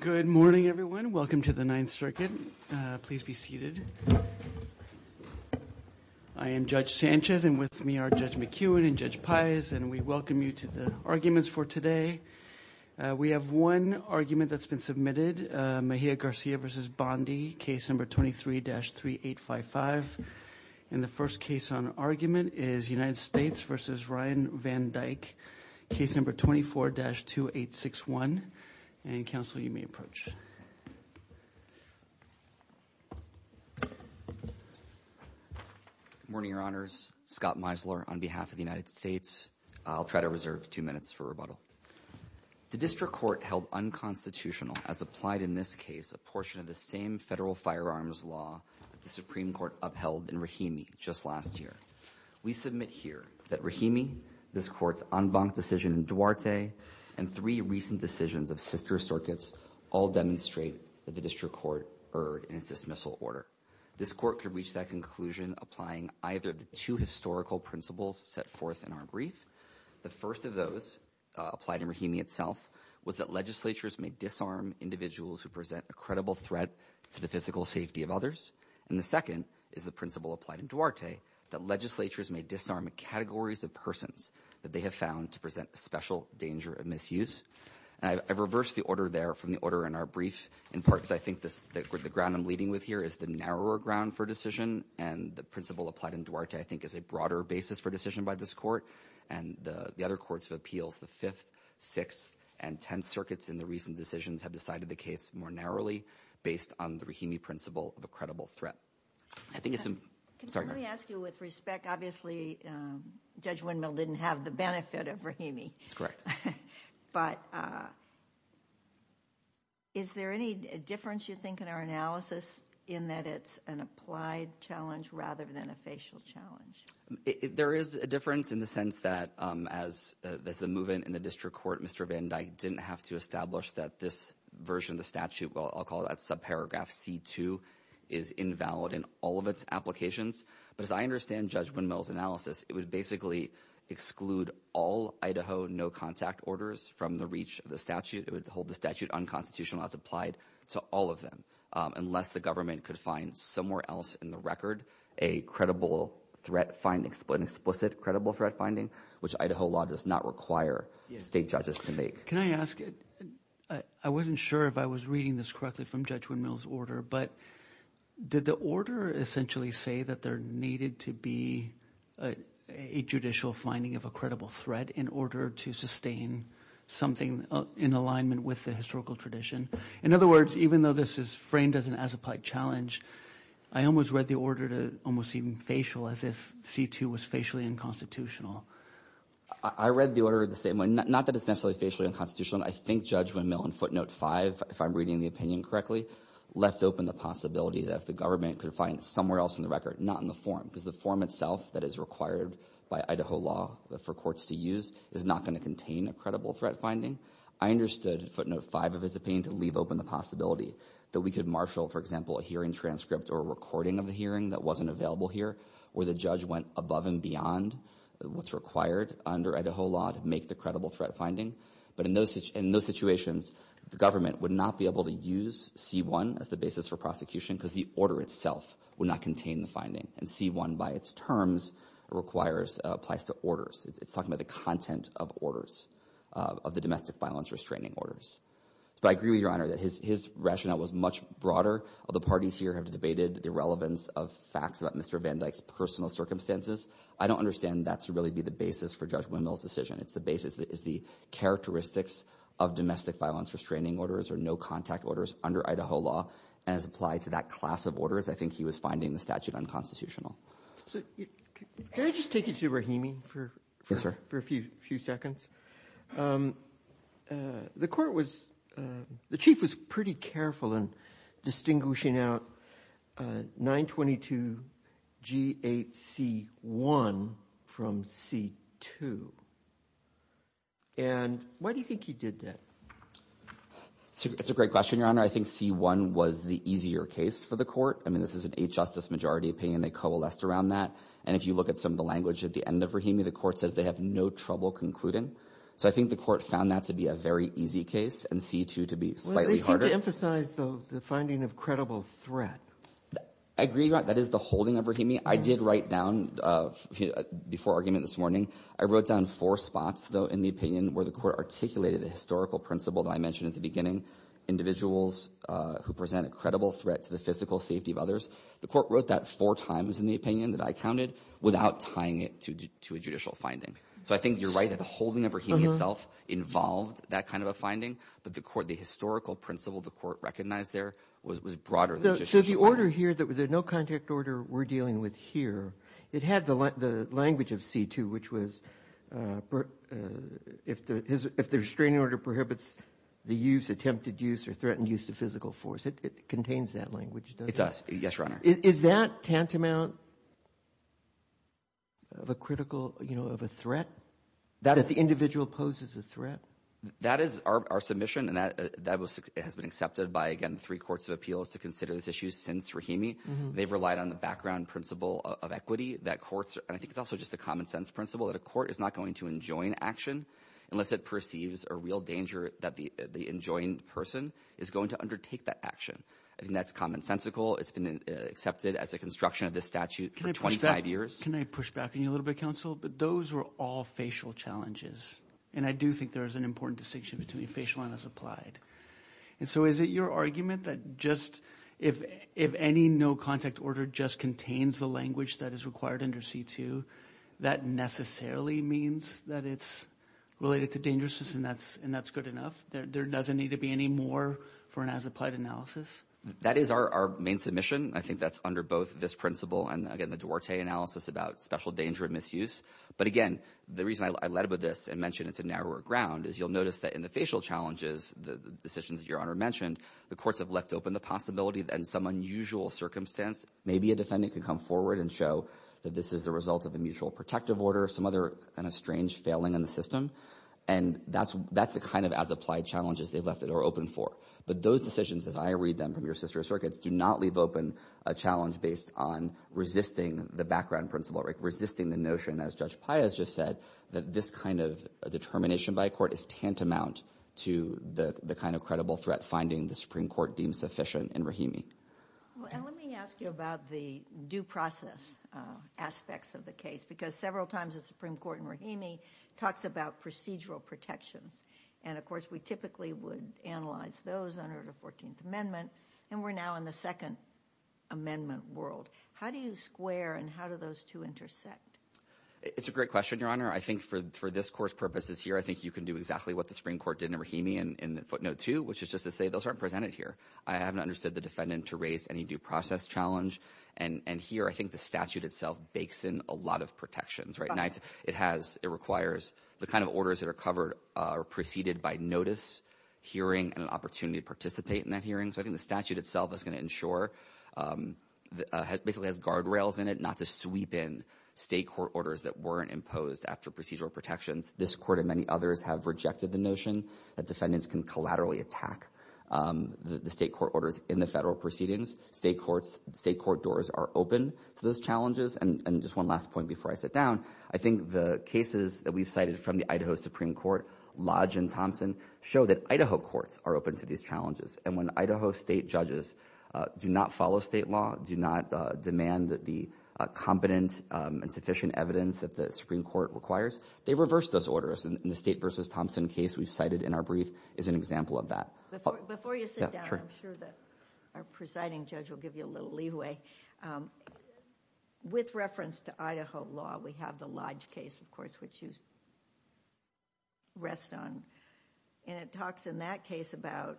Good morning everyone. Welcome to the Ninth Circuit. Please be seated. I am Judge Sanchez and with me are Judge McEwen and Judge Pais and we welcome you to the arguments for today. We have one argument that's been submitted, Mejia Garcia v. Bondi, case number 23-3855. And the first case on argument is United States v. Ryan VanDyke, case number 24-2861. And counsel, you may approach. Good morning, Your Honors. Scott Meisler on behalf of the United States. I'll try to reserve two minutes for rebuttal. The District Court held unconstitutional, as applied in this case, a portion of the same federal firearms law that the Supreme Court upheld in Rahimi just last year. We submit here that Rahimi, this court's en banc decision in Duarte, and three recent decisions of sister circuits all demonstrate that the District Court erred in its dismissal order. This court could reach that conclusion applying either of the two historical principles set forth in our brief. The first of those, applied in Rahimi itself, was that legislatures may disarm individuals who present a threat to the physical safety of others. And the second is the principle applied in Duarte, that legislatures may disarm categories of persons that they have found to present a special danger of misuse. I've reversed the order there from the order in our brief, in part because I think the ground I'm leading with here is the narrower ground for decision, and the principle applied in Duarte, I think, is a broader basis for decision by this court. And the other courts of appeals, the Fifth, Sixth, and Tenth Circuits in the recent decisions, have decided the case more narrowly based on the Rahimi principle of a credible threat. I think it's... Sorry. Let me ask you with respect, obviously, Judge Windmill didn't have the benefit of Rahimi. That's correct. But is there any difference, you think, in our analysis in that it's an applied challenge rather than a facial challenge? There is a difference in the sense that as the movement in the District Court, Mr. Van Dyke didn't have to establish that this version of the statute, I'll call that subparagraph C-2, is invalid in all of its applications. But as I understand Judge Windmill's analysis, it would basically exclude all Idaho no-contact orders from the reach of the statute. It would hold the statute unconstitutional as applied to all of them, unless the government could find somewhere else in the record a credible threat finding, an explicit credible threat finding, which Idaho law does not require State judges to make. Can I ask, I wasn't sure if I was reading this correctly from Judge Windmill's order, but did the order essentially say that there needed to be a judicial finding of a credible threat in order to sustain something in alignment with the historical tradition? In other words, even though this is framed as an as-applied challenge, I almost read the order to almost even facial, as if C-2 was facially unconstitutional. I read the order the same way, not that it's necessarily facially unconstitutional. I think Judge Windmill, in footnote 5, if I'm reading the opinion correctly, left open the possibility that if the government could find somewhere else in the record, not in the form, because the form itself that is required by Idaho law for courts to use is not going to contain a credible threat finding. I understood footnote 5 of his opinion to leave open the possibility that we could marshal, for example, a hearing transcript or a recording of the hearing that wasn't available here, where the judge went above and beyond what's required under Idaho law to make the credible threat finding. But in those situations, the government would not be able to use C-1 as the basis for prosecution because the order itself would not contain the finding. And C-1, by its terms, applies to orders. It's talking about the content of orders, of the domestic violence restraining orders. But I agree with Your Honor that his rationale was much broader. The parties here have debated the relevance of facts about Mr. Van Dyke's personal circumstances. I don't understand that to really be the basis for Judge Wendell's decision. It's the basis that is the characteristics of domestic violence restraining orders or no-contact orders under Idaho law and has applied to that class of orders. I think he was finding the statute unconstitutional. Can I just take you to Rahimi for a few seconds? The court was, the chief was pretty careful in distinguishing out 922 G-8 C-1 from C-2. And why do you think he did that? That's a great question, Your Honor. I think C-1 was the easier case for the court. I mean, this is an Eighth Justice majority opinion. They coalesced around that. And if you look at some of the language at the end of Rahimi, the court says they have no trouble concluding. So I think the court found that to be a very easy case and C-2 to be slightly harder. Well, they seem to emphasize the finding of credible threat. I agree, Your Honor. That is the holding of Rahimi. I did write down before argument this morning, I wrote down four spots, though, in the opinion where the court articulated the historical principle that I mentioned at the beginning, individuals who present a credible threat to the physical safety of others. The court wrote that four times in the opinion that I counted without tying it to a judicial finding. So I think you're right that the holding of Rahimi itself involved that kind of a finding. But the court, the historical principle the court recognized there was broader than just the order. So the order here, the no-contact order we're dealing with here, it had the language of C-2, which was if the restraining order prohibits the use, attempted use, or threatened use of physical force. It contains that language, doesn't it? It does. Yes, Your Honor. Is that tantamount of a critical, you know, of a threat? That's the individual poses a threat. That is our submission, and that has been accepted by, again, three courts of appeals to consider this issue since Rahimi. They've relied on the background principle of equity that courts, and I think it's also just a common-sense principle, that a court is not going to enjoin action unless it perceives a real danger that the enjoined person is going to undertake that action. I think that's commonsensical. It's been accepted as a construction of this statute for 25 years. Can I push back on you a little bit, Counsel? Those were all facial challenges, and I do think there is an important distinction between facial and as applied, and so is it your argument that just if any no-contact order just contains the language that is required under C-2, that necessarily means that it's related to dangerousness, and that's good enough? There doesn't need to be any more for an as applied analysis? That is our main submission. I think that's under both this principle and, again, the Duarte analysis about special danger and misuse, but again, the reason I led with this and mentioned it's a narrower ground is you'll notice that in the facial challenges, the decisions that Your Honor mentioned, the courts have left open the possibility that in some unusual circumstance, maybe a defendant could come forward and show that this is the result of a mutual protective order, some other kind of strange failing in the system, and that's the kind of as applied challenges they've left it open for, but those decisions as I read them from your sister circuits do not leave open a challenge based on resisting the background principle, resisting the notion, as Judge Piaz just said, that this kind of determination by a court is tantamount to the kind of credible threat finding the Supreme Court deems sufficient in Rahimi. Let me ask you about the due process aspects of the case, because several times the Supreme Court in Rahimi talks about procedural protections, and of course we typically would analyze those under the 14th Amendment, and we're now on the Second Amendment world. How do you square and how do those two intersect? It's a great question, Your Honor. I think for this court's purposes here, I think you can do exactly what the Supreme Court did in Rahimi in footnote two, which is just to say those aren't presented here. I haven't understood the defendant to raise any due process challenge, and here I think the statute itself bakes in a lot of protections. It requires the kind of orders that are covered or preceded by notice, hearing, and an opportunity to participate in that hearing, so I think the statute itself is going to ensure, basically has guardrails in it not to sweep in state court orders that weren't imposed after procedural protections. This court and many others have rejected the notion that defendants can collaterally attack the state court orders in the federal proceedings. State court doors are open to those challenges, and just one last point before I sit down. I think the cases that we've cited from the Idaho Supreme Court, Lodge and Thompson, show that Idaho courts are open to these challenges, and when Idaho state judges do not follow state law, do not demand that the competent and sufficient evidence that the Supreme Court requires, they reverse those orders, and the State v. Thompson case we've cited in our brief is an example of that. Before you sit down, I'm sure that our presiding judge will give you a little leeway. With reference to Idaho law, we have the Lodge case, of course, which you rest on. It talks in that case about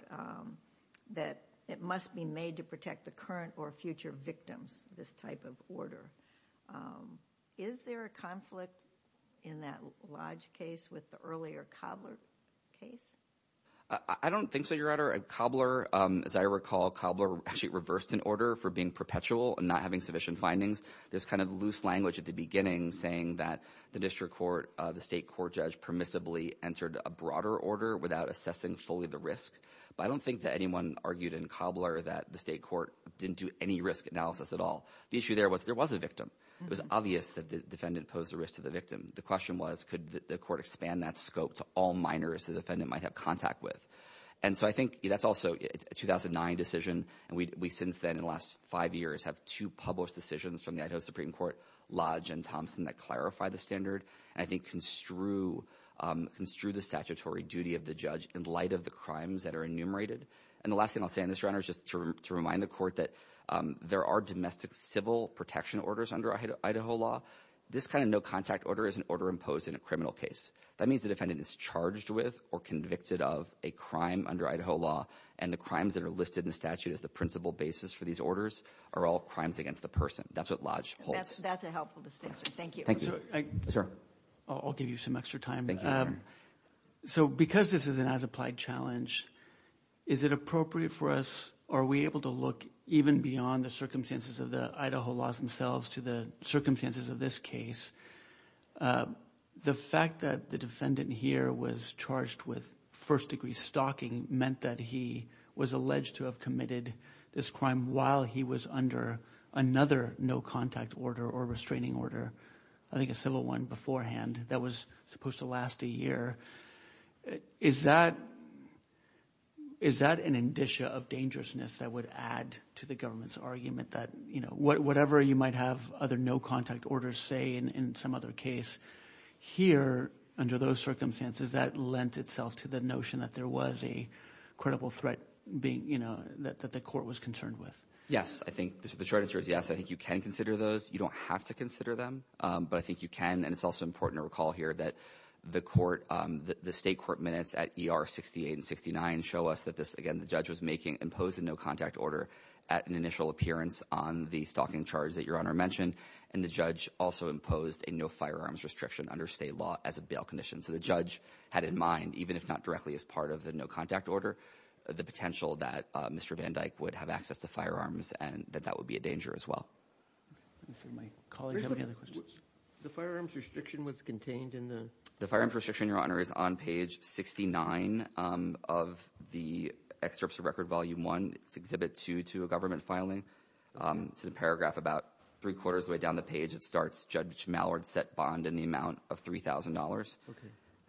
that it must be made to protect the current or future victims, this type of order. Is there a conflict in that Lodge case with the earlier Cobbler case? I don't think so, Your Honor. Cobbler, as I recall, actually reversed an order for being perpetual and not having sufficient findings. There's kind of loose language at the beginning saying that the district court, the state court judge, permissibly entered a broader order without assessing fully the risk, but I don't think that anyone argued in Cobbler that the state court didn't do any risk analysis at all. The issue there was there was a victim. It was obvious that the defendant posed a risk to the victim. The question was, could the court expand that scope to all minors the defendant might have contact with? I think that's also a 2009 decision, and we, since then, in the last five years, have two published decisions from the Idaho Supreme Court, Lodge and Thompson, that clarify the standard and I think construe the statutory duty of the judge in light of the crimes that are enumerated. And the last thing I'll say on this, Your Honor, is just to remind the court that there are domestic civil protection orders under Idaho law. This kind of no-contact order is an order imposed in a criminal case. That means the defendant is charged with or convicted of a crime under Idaho law, and the crimes that are listed in the statute as the principal basis for these orders are all crimes against the person. That's what Lodge holds. That's a helpful distinction. Thank you. Thank you. Sir? I'll give you some extra time. Thank you, Your Honor. So, because this is an as-applied challenge, is it appropriate for us, are we able to look even beyond the circumstances of the Idaho laws themselves to the circumstances of this case? The fact that the defendant here was charged with first-degree stalking meant that he was alleged to have committed this crime while he was under another no-contact order or restraining order, I think a civil one beforehand, that was supposed to last a year. Is that an indicia of dangerousness that would add to the government's argument that, you know, whatever you might have other no-contact orders say in some other case, here, under those circumstances, that lent itself to the notion that there was a credible threat, you know, that the court was concerned with? Yes. I think the short answer is yes. I think you can consider those. You don't have to consider them. But I think you can. And it's also important to recall here that the court, the state court minutes at ER 68 and 69 show us that this, again, the judge was making imposed a no-contact order at an initial appearance on the stalking charge that Your Honor mentioned, and the judge also imposed a no-firearms restriction under state law as a bail condition. So the judge had in mind, even if not directly as part of the no-contact order, the potential that Mr. Van Dyke would have access to firearms and that that would be a danger as well. Does my colleague have any other questions? The firearms restriction was contained in the? The firearms restriction, Your Honor, is on page 69 of the excerpts of Record Volume 1. It's Exhibit 2 to a government filing. It's a paragraph about three-quarters of the way down the page. It starts, Judge Mallard set bond in the amount of $3,000.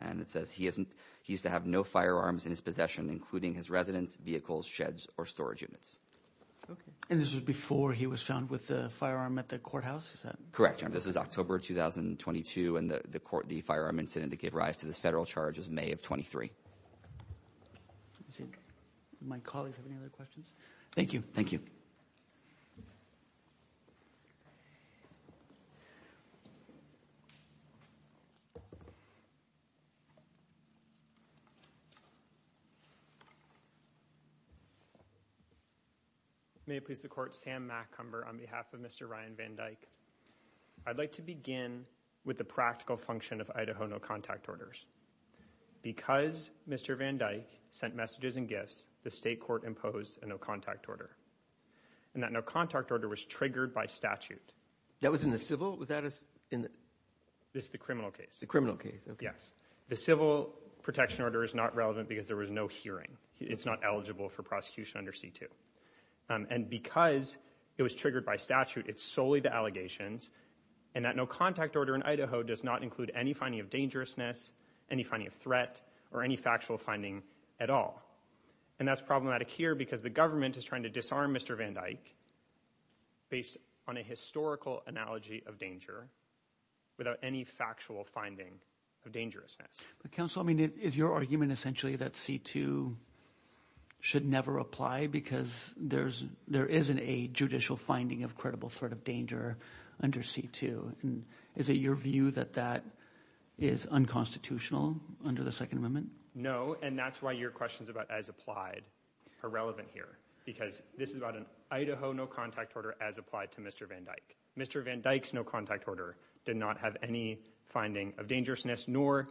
And it says he isn't, he used to have no firearms in his possession, including his residence, vehicles, sheds, or storage units. Okay. And this was before he was found with a firearm at the courthouse? Is that? Correct, Your Honor. This is October 2022. And the court, the firearm incident to give rise to this federal charge is May of 23. Let me see. Do my colleagues have any other questions? Thank you. Thank you. May it please the court, Sam McCumber on behalf of Mr. Ryan Van Dyke. I'd like to begin with the practical function of Idaho no-contact orders. Because Mr. Van Dyke sent messages and gifts, the state court imposed a no-contact order. And that no-contact order was triggered by statute. That was in the civil? Was that in the... This is the criminal case. The criminal case. Okay. Yes. The civil protection order is not relevant because there was no hearing. It's not eligible for prosecution under C2. And because it was triggered by statute, it's solely the allegations. And that no-contact order in Idaho does not include any finding of dangerousness, any finding of threat, or any factual finding at all. And that's problematic here because the government is trying to disarm Mr. Van Dyke based on a historical analogy of danger without any factual finding of dangerousness. But counsel, I mean, is your argument essentially that C2 should never apply because there isn't a judicial finding of credible threat of danger under C2? Is it your view that that is unconstitutional under the Second Amendment? No. No. And that's why your questions about as applied are relevant here. Because this is about an Idaho no-contact order as applied to Mr. Van Dyke. Mr. Van Dyke's no-contact order did not have any finding of dangerousness, nor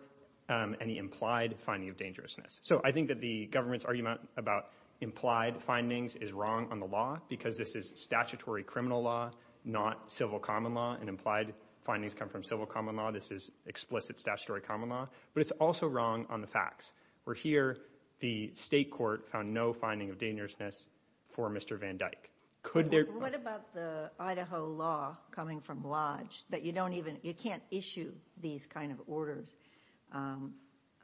any implied finding of dangerousness. So I think that the government's argument about implied findings is wrong on the law because this is statutory criminal law, not civil common law, and implied findings come from civil common law. This is explicit statutory common law. But it's also wrong on the facts. Where here, the state court found no finding of dangerousness for Mr. Van Dyke. Could there... What about the Idaho law coming from Lodge that you don't even, you can't issue these kind of orders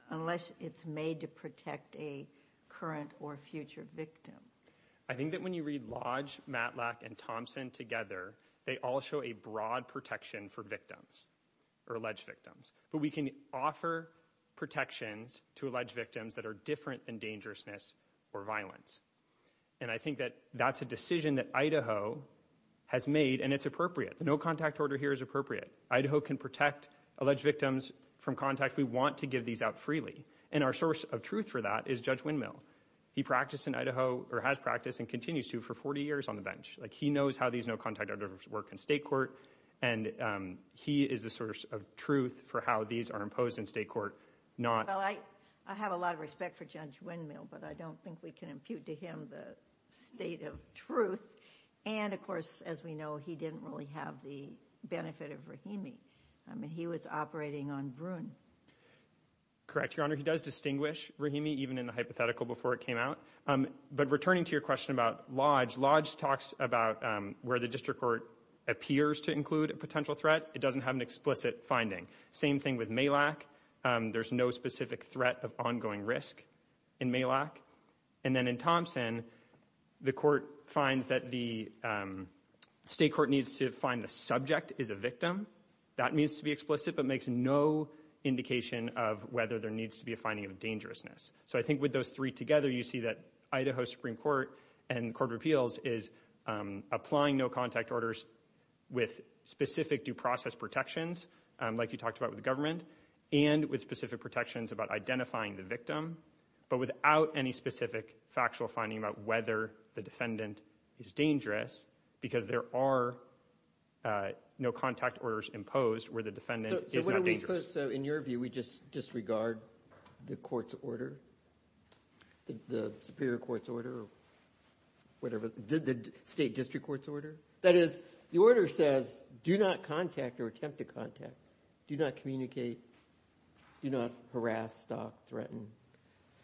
unless it's made to protect a current or future victim? I think that when you read Lodge, Matlack, and Thompson together, they all show a broad protection for victims, or alleged victims. But we can offer protections to alleged victims that are different than dangerousness or violence. And I think that that's a decision that Idaho has made, and it's appropriate. The no-contact order here is appropriate. Idaho can protect alleged victims from contact. We want to give these out freely. And our source of truth for that is Judge Windmill. He practiced in Idaho, or has practiced and continues to, for 40 years on the bench. He knows how these no-contact orders work in state court, and he is the source of truth for how these are imposed in state court, not... Well, I have a lot of respect for Judge Windmill, but I don't think we can impute to him the state of truth. And of course, as we know, he didn't really have the benefit of Rahimi. He was operating on Bruin. Correct, Your Honor. He does distinguish Rahimi, even in the hypothetical before it came out. But returning to your question about Lodge, Lodge talks about where the district court appears to include a potential threat. It doesn't have an explicit finding. Same thing with Malak. There's no specific threat of ongoing risk in Malak. And then in Thompson, the court finds that the state court needs to find the subject is a victim. That needs to be explicit, but makes no indication of whether there needs to be a finding of dangerousness. So I think with those three together, you see that Idaho Supreme Court and Court of Justice protections, like you talked about with the government, and with specific protections about identifying the victim, but without any specific factual finding about whether the defendant is dangerous, because there are no contact orders imposed where the defendant is not dangerous. So what are we supposed... So in your view, we just disregard the court's order, the superior court's order, or whatever, the state district court's order? That is, the order says, do not contact or attempt to contact, do not communicate, do not harass, stalk, threaten.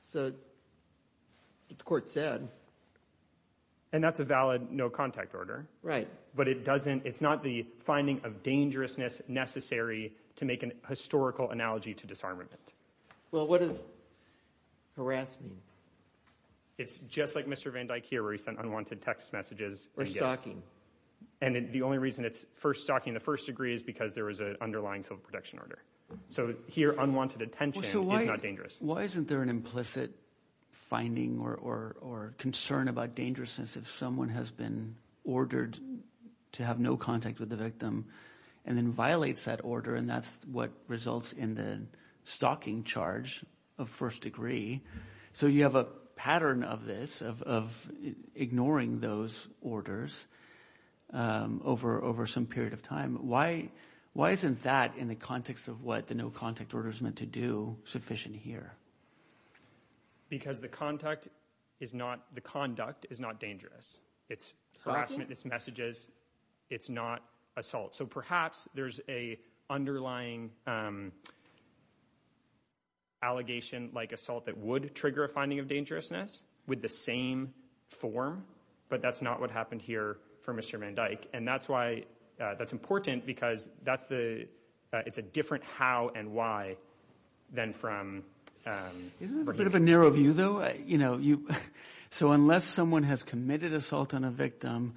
So the court said... And that's a valid no contact order. Right. But it doesn't, it's not the finding of dangerousness necessary to make an historical analogy to disarmament. Well, what does harass mean? It's just like Mr. Van Dyke here, where he sent unwanted text messages. Or stalking. And the only reason it's for stalking the first degree is because there was an underlying civil protection order. So here, unwanted attention is not dangerous. Why isn't there an implicit finding or concern about dangerousness if someone has been ordered to have no contact with the victim, and then violates that order, and that's what results in the stalking charge of first degree. So you have a pattern of this, of ignoring those orders over some period of time. Why isn't that, in the context of what the no contact order is meant to do, sufficient here? Because the conduct is not dangerous. It's harassment, it's messages, it's not assault. So perhaps there's an underlying allegation like assault that would trigger a finding of dangerousness with the same form, but that's not what happened here for Mr. Van Dyke. And that's why, that's important, because that's the, it's a different how and why than from... Isn't it a bit of a narrow view though? So unless someone has committed assault on a victim,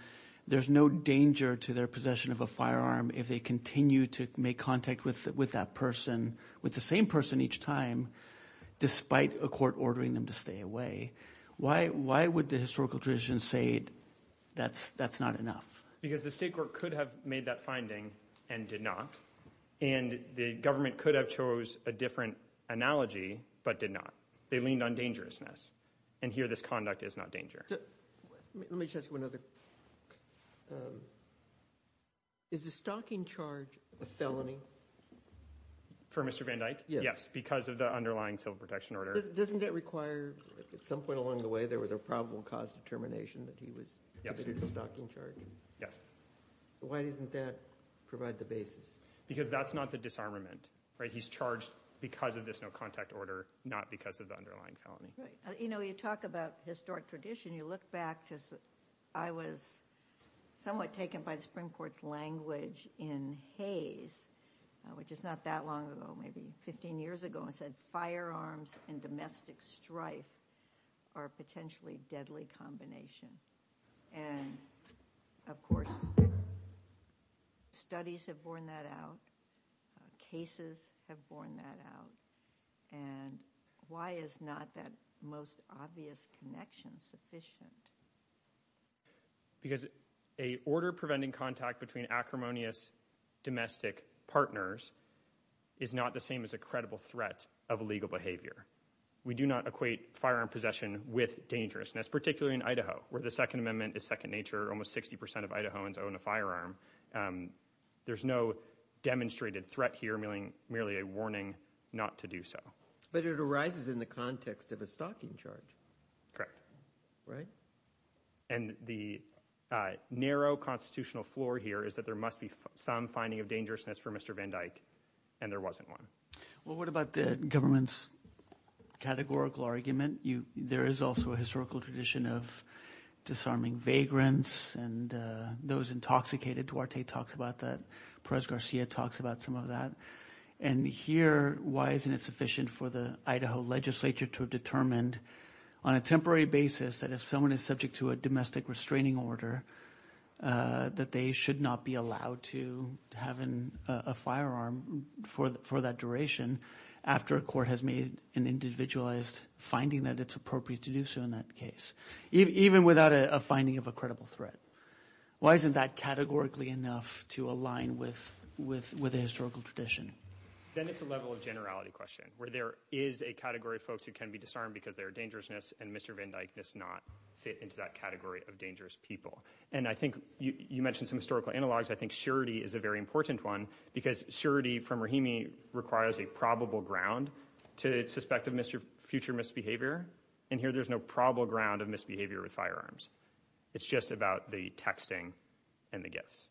there's no danger to their possession of a firearm if they continue to make contact with that person, with the same person each time, despite a court ordering them to stay away. Why would the historical tradition say that's not enough? Because the state court could have made that finding and did not, and the government could have chose a different analogy, but did not. They leaned on dangerousness. And here this conduct is not dangerous. Let me just ask you another. Is the stocking charge a felony? For Mr. Van Dyke? Yes. Because of the underlying civil protection order. Doesn't that require, at some point along the way, there was a probable cause determination that he was committed a stocking charge? Yes. So why doesn't that provide the basis? Because that's not the disarmament, right? He's charged because of this no contact order, not because of the underlying felony. Right. You know, you talk about historic tradition, you look back to, I was somewhat taken by the Supreme Court's language in Hays, which is not that long ago, maybe 15 years ago, and said firearms and domestic strife are a potentially deadly combination. And of course, studies have borne that out. Cases have borne that out. And why is not that most obvious connection sufficient? Because a order preventing contact between acrimonious domestic partners is not the same as a credible threat of illegal behavior. We do not equate firearm possession with dangerousness, particularly in Idaho, where the Second Amendment is second nature. Almost 60% of Idahoans own a firearm. There's no demonstrated threat here, merely a warning not to do so. But it arises in the context of a stocking charge. Correct. Right? And the narrow constitutional floor here is that there must be some finding of dangerousness for Mr. Van Dyck, and there wasn't one. Well, what about the government's categorical argument? There is also a historical tradition of disarming vagrants, and those intoxicated, Duarte talks about that, Perez-Garcia talks about some of that. And here, why isn't it sufficient for the Idaho legislature to have determined on a temporary basis that if someone is subject to a domestic restraining order, that they should not be allowed to have a firearm for that duration, after a court has made an individualized finding that it's appropriate to do so in that case, even without a finding of a credible threat? Why isn't that categorically enough to align with a historical tradition? Then it's a level of generality question, where there is a category of folks who can be disarmed because they're dangerousness, and Mr. Van Dyck does not fit into that category of dangerous people. And I think you mentioned some historical analogs. I think surety is a very important one, because surety from Rahimi requires a probable ground to suspect a future misbehavior, and here there's no probable ground of misbehavior with firearms. It's just about the texting and the gifts.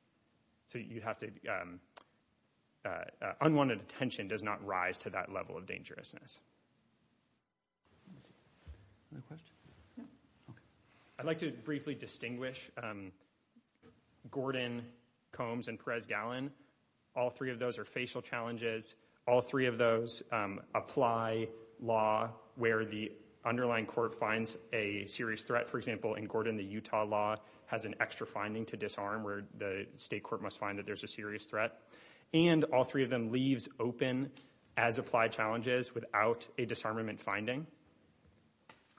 So you have to, unwanted attention does not rise to that level of dangerousness. I'd like to briefly distinguish Gordon Combs and Perez-Gallon. All three of those are facial challenges. All three of those apply law where the underlying court finds a serious threat. For example, in Gordon, the Utah law has an extra finding to disarm, where the state court must find that there's a serious threat. And all three of them leaves open as applied challenges without a disarmament finding.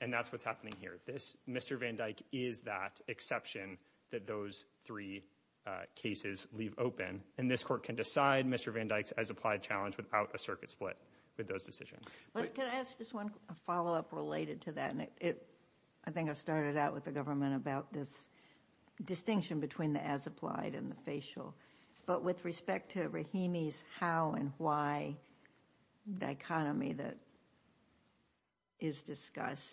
And that's what's happening here. Mr. Van Dyck is that exception that those three cases leave open. And this court can decide Mr. Van Dyck's as applied challenge without a circuit split with those decisions. But can I ask just one follow-up related to that? I think I started out with the government about this distinction between the as applied and the facial. But with respect to Rahimi's how and why dichotomy that is discussed,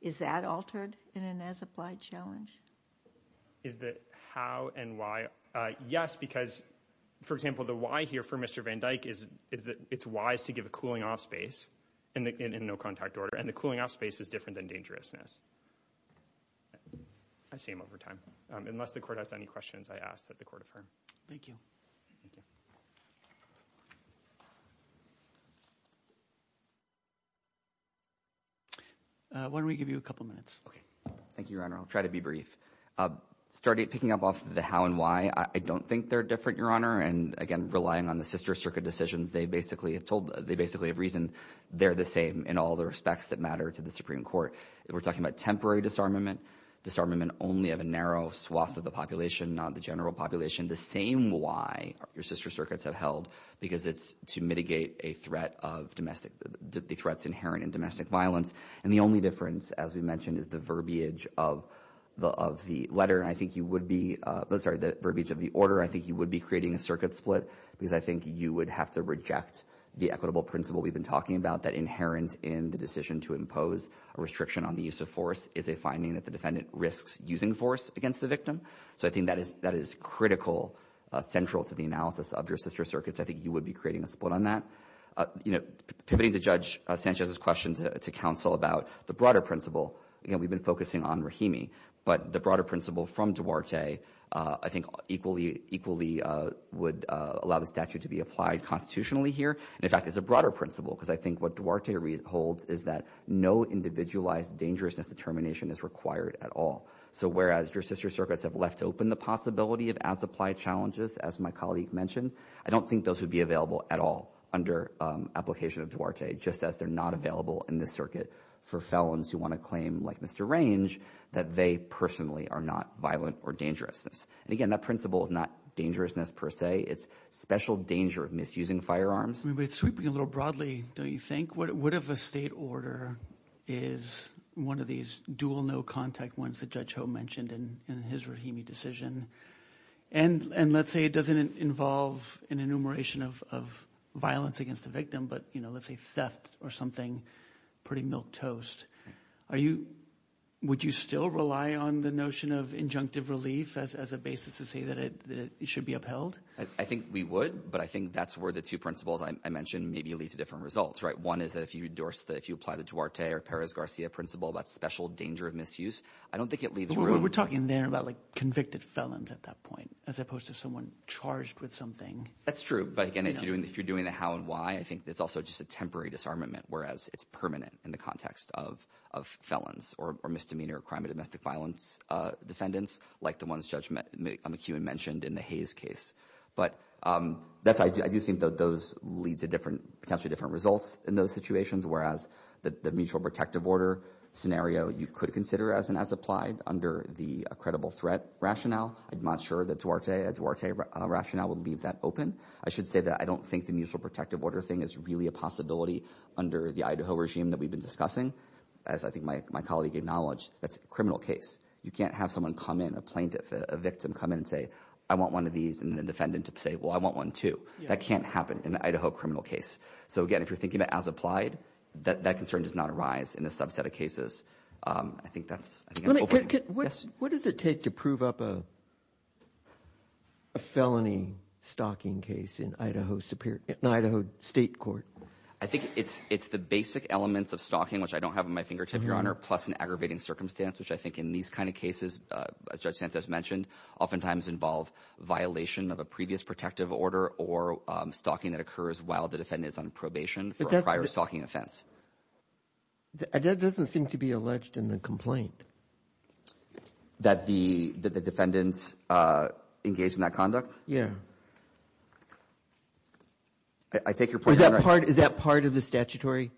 is that altered in an as applied challenge? Is that how and why? Yes, because, for example, the why here for Mr. Van Dyck is that it's wise to give a cooling off space in no contact order. And the cooling off space is different than dangerousness. I see him over time. Unless the court has any questions, I ask that the court affirm. Thank you. Thank you. Why don't we give you a couple minutes? Okay. Thank you, Your Honor. I'll try to be brief. Starting picking up off the how and why, I don't think they're different, Your Honor. And again, relying on the sister circuit decisions, they basically have reason. They're the same in all the respects that matter to the Supreme Court. We're talking about temporary disarmament. Disarmament only of a narrow swath of the population, not the general population. The same why your sister circuits have held, because it's to mitigate a threat of domestic threats inherent in domestic violence. And the only difference, as we mentioned, is the verbiage of the letter. I think you would be, sorry, the verbiage of the order, I think you would be creating a circuit split because I think you would have to reject the equitable principle we've been talking about that inherent in the decision to impose a restriction on the use of force is a finding that the defendant risks using force against the victim. So I think that is critical, central to the analysis of your sister circuits. I think you would be creating a split on that. Pivoting to Judge Sanchez's question to counsel about the broader principle, again, we've been focusing on Rahimi, but the broader principle from Duarte, I think equally would allow the statute to be applied constitutionally here. In fact, it's a broader principle, because I think what Duarte holds is that no individualized dangerousness determination is required at all. So whereas your sister circuits have left open the possibility of as-applied challenges, as my colleague mentioned, I don't think those would be available at all under application of Duarte, just as they're not available in this circuit for felons who want to claim, like Mr. Range, that they personally are not violent or dangerous. And again, that principle is not dangerousness per se. It's special danger of misusing firearms. But it's sweeping a little broadly, don't you think? What if a state order is one of these dual no-contact ones that Judge Ho mentioned in his Rahimi decision? And let's say it doesn't involve an enumeration of violence against a victim, but let's say theft or something pretty milquetoast. Would you still rely on the notion of injunctive relief as a basis to say that it should be I think we would, but I think that's where the two principles I mentioned maybe lead to different results. One is that if you apply the Duarte or Perez-Garcia principle about special danger of misuse, I don't think it leads to a... But we're talking there about convicted felons at that point, as opposed to someone charged with something. That's true. But again, if you're doing the how and why, I think there's also just a temporary disarmament, whereas it's permanent in the context of felons or misdemeanor or crime of domestic violence defendants, like the ones Judge McEwen mentioned in the Hayes case. But I do think that those lead to potentially different results in those situations, whereas the mutual protective order scenario, you could consider as an as-applied under the credible threat rationale. I'm not sure that Duarte rationale would leave that open. I should say that I don't think the mutual protective order thing is really a possibility under the Idaho regime that we've been discussing, as I think my colleague acknowledged. That's a criminal case. You can't have someone come in, a plaintiff, a victim come in and say, I want one of these and the defendant to say, well, I want one too. That can't happen in the Idaho criminal case. So again, if you're thinking about as-applied, that concern does not arise in a subset of I think that's an open question. What does it take to prove up a felony stalking case in Idaho Superior – in Idaho State Court? I think it's the basic elements of stalking, which I don't have on my fingertip, Your Honor, plus an aggravating circumstance, which I think in these kind of cases, as Judge Sanchez mentioned, oftentimes involve violation of a previous protective order or stalking that occurs while the defendant is on probation for a prior stalking offense. But that doesn't seem to be alleged in the complaint. That the defendant engaged in that conduct? Yeah. I take your point, Your Honor. Is that part of the statutory?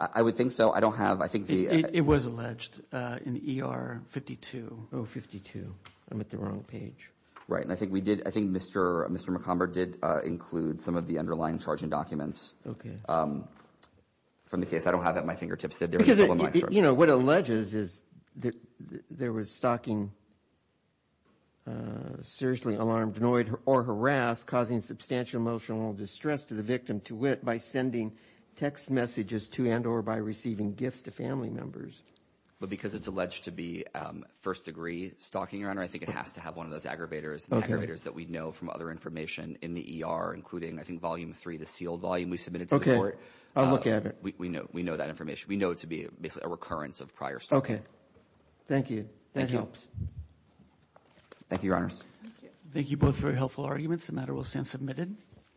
I would think so. I don't have – I think the – It was alleged in ER 52, 052. I'm at the wrong page. Right. I think we did – I think Mr. McComber did include some of the underlying charging documents – Okay. – from the case. I don't have that on my fingertips. Because, you know, what it alleges is that there was stalking, seriously alarmed, annoyed, or harassed, causing substantial emotional distress to the victim to wit by sending text messages to and or by receiving gifts to family members. But because it's alleged to be first-degree stalking, Your Honor, I think it has to have one of those aggravators –– aggravators that we know from other information in the ER, including, I think, volume three, the sealed volume we submitted to the court. I'll look at it. We know that information. We know it to be basically a recurrence of prior stalking. Okay. Thank you. That helps. Thank you, Your Honors. Thank you. Thank you both for your helpful arguments. The matter will stand submitted.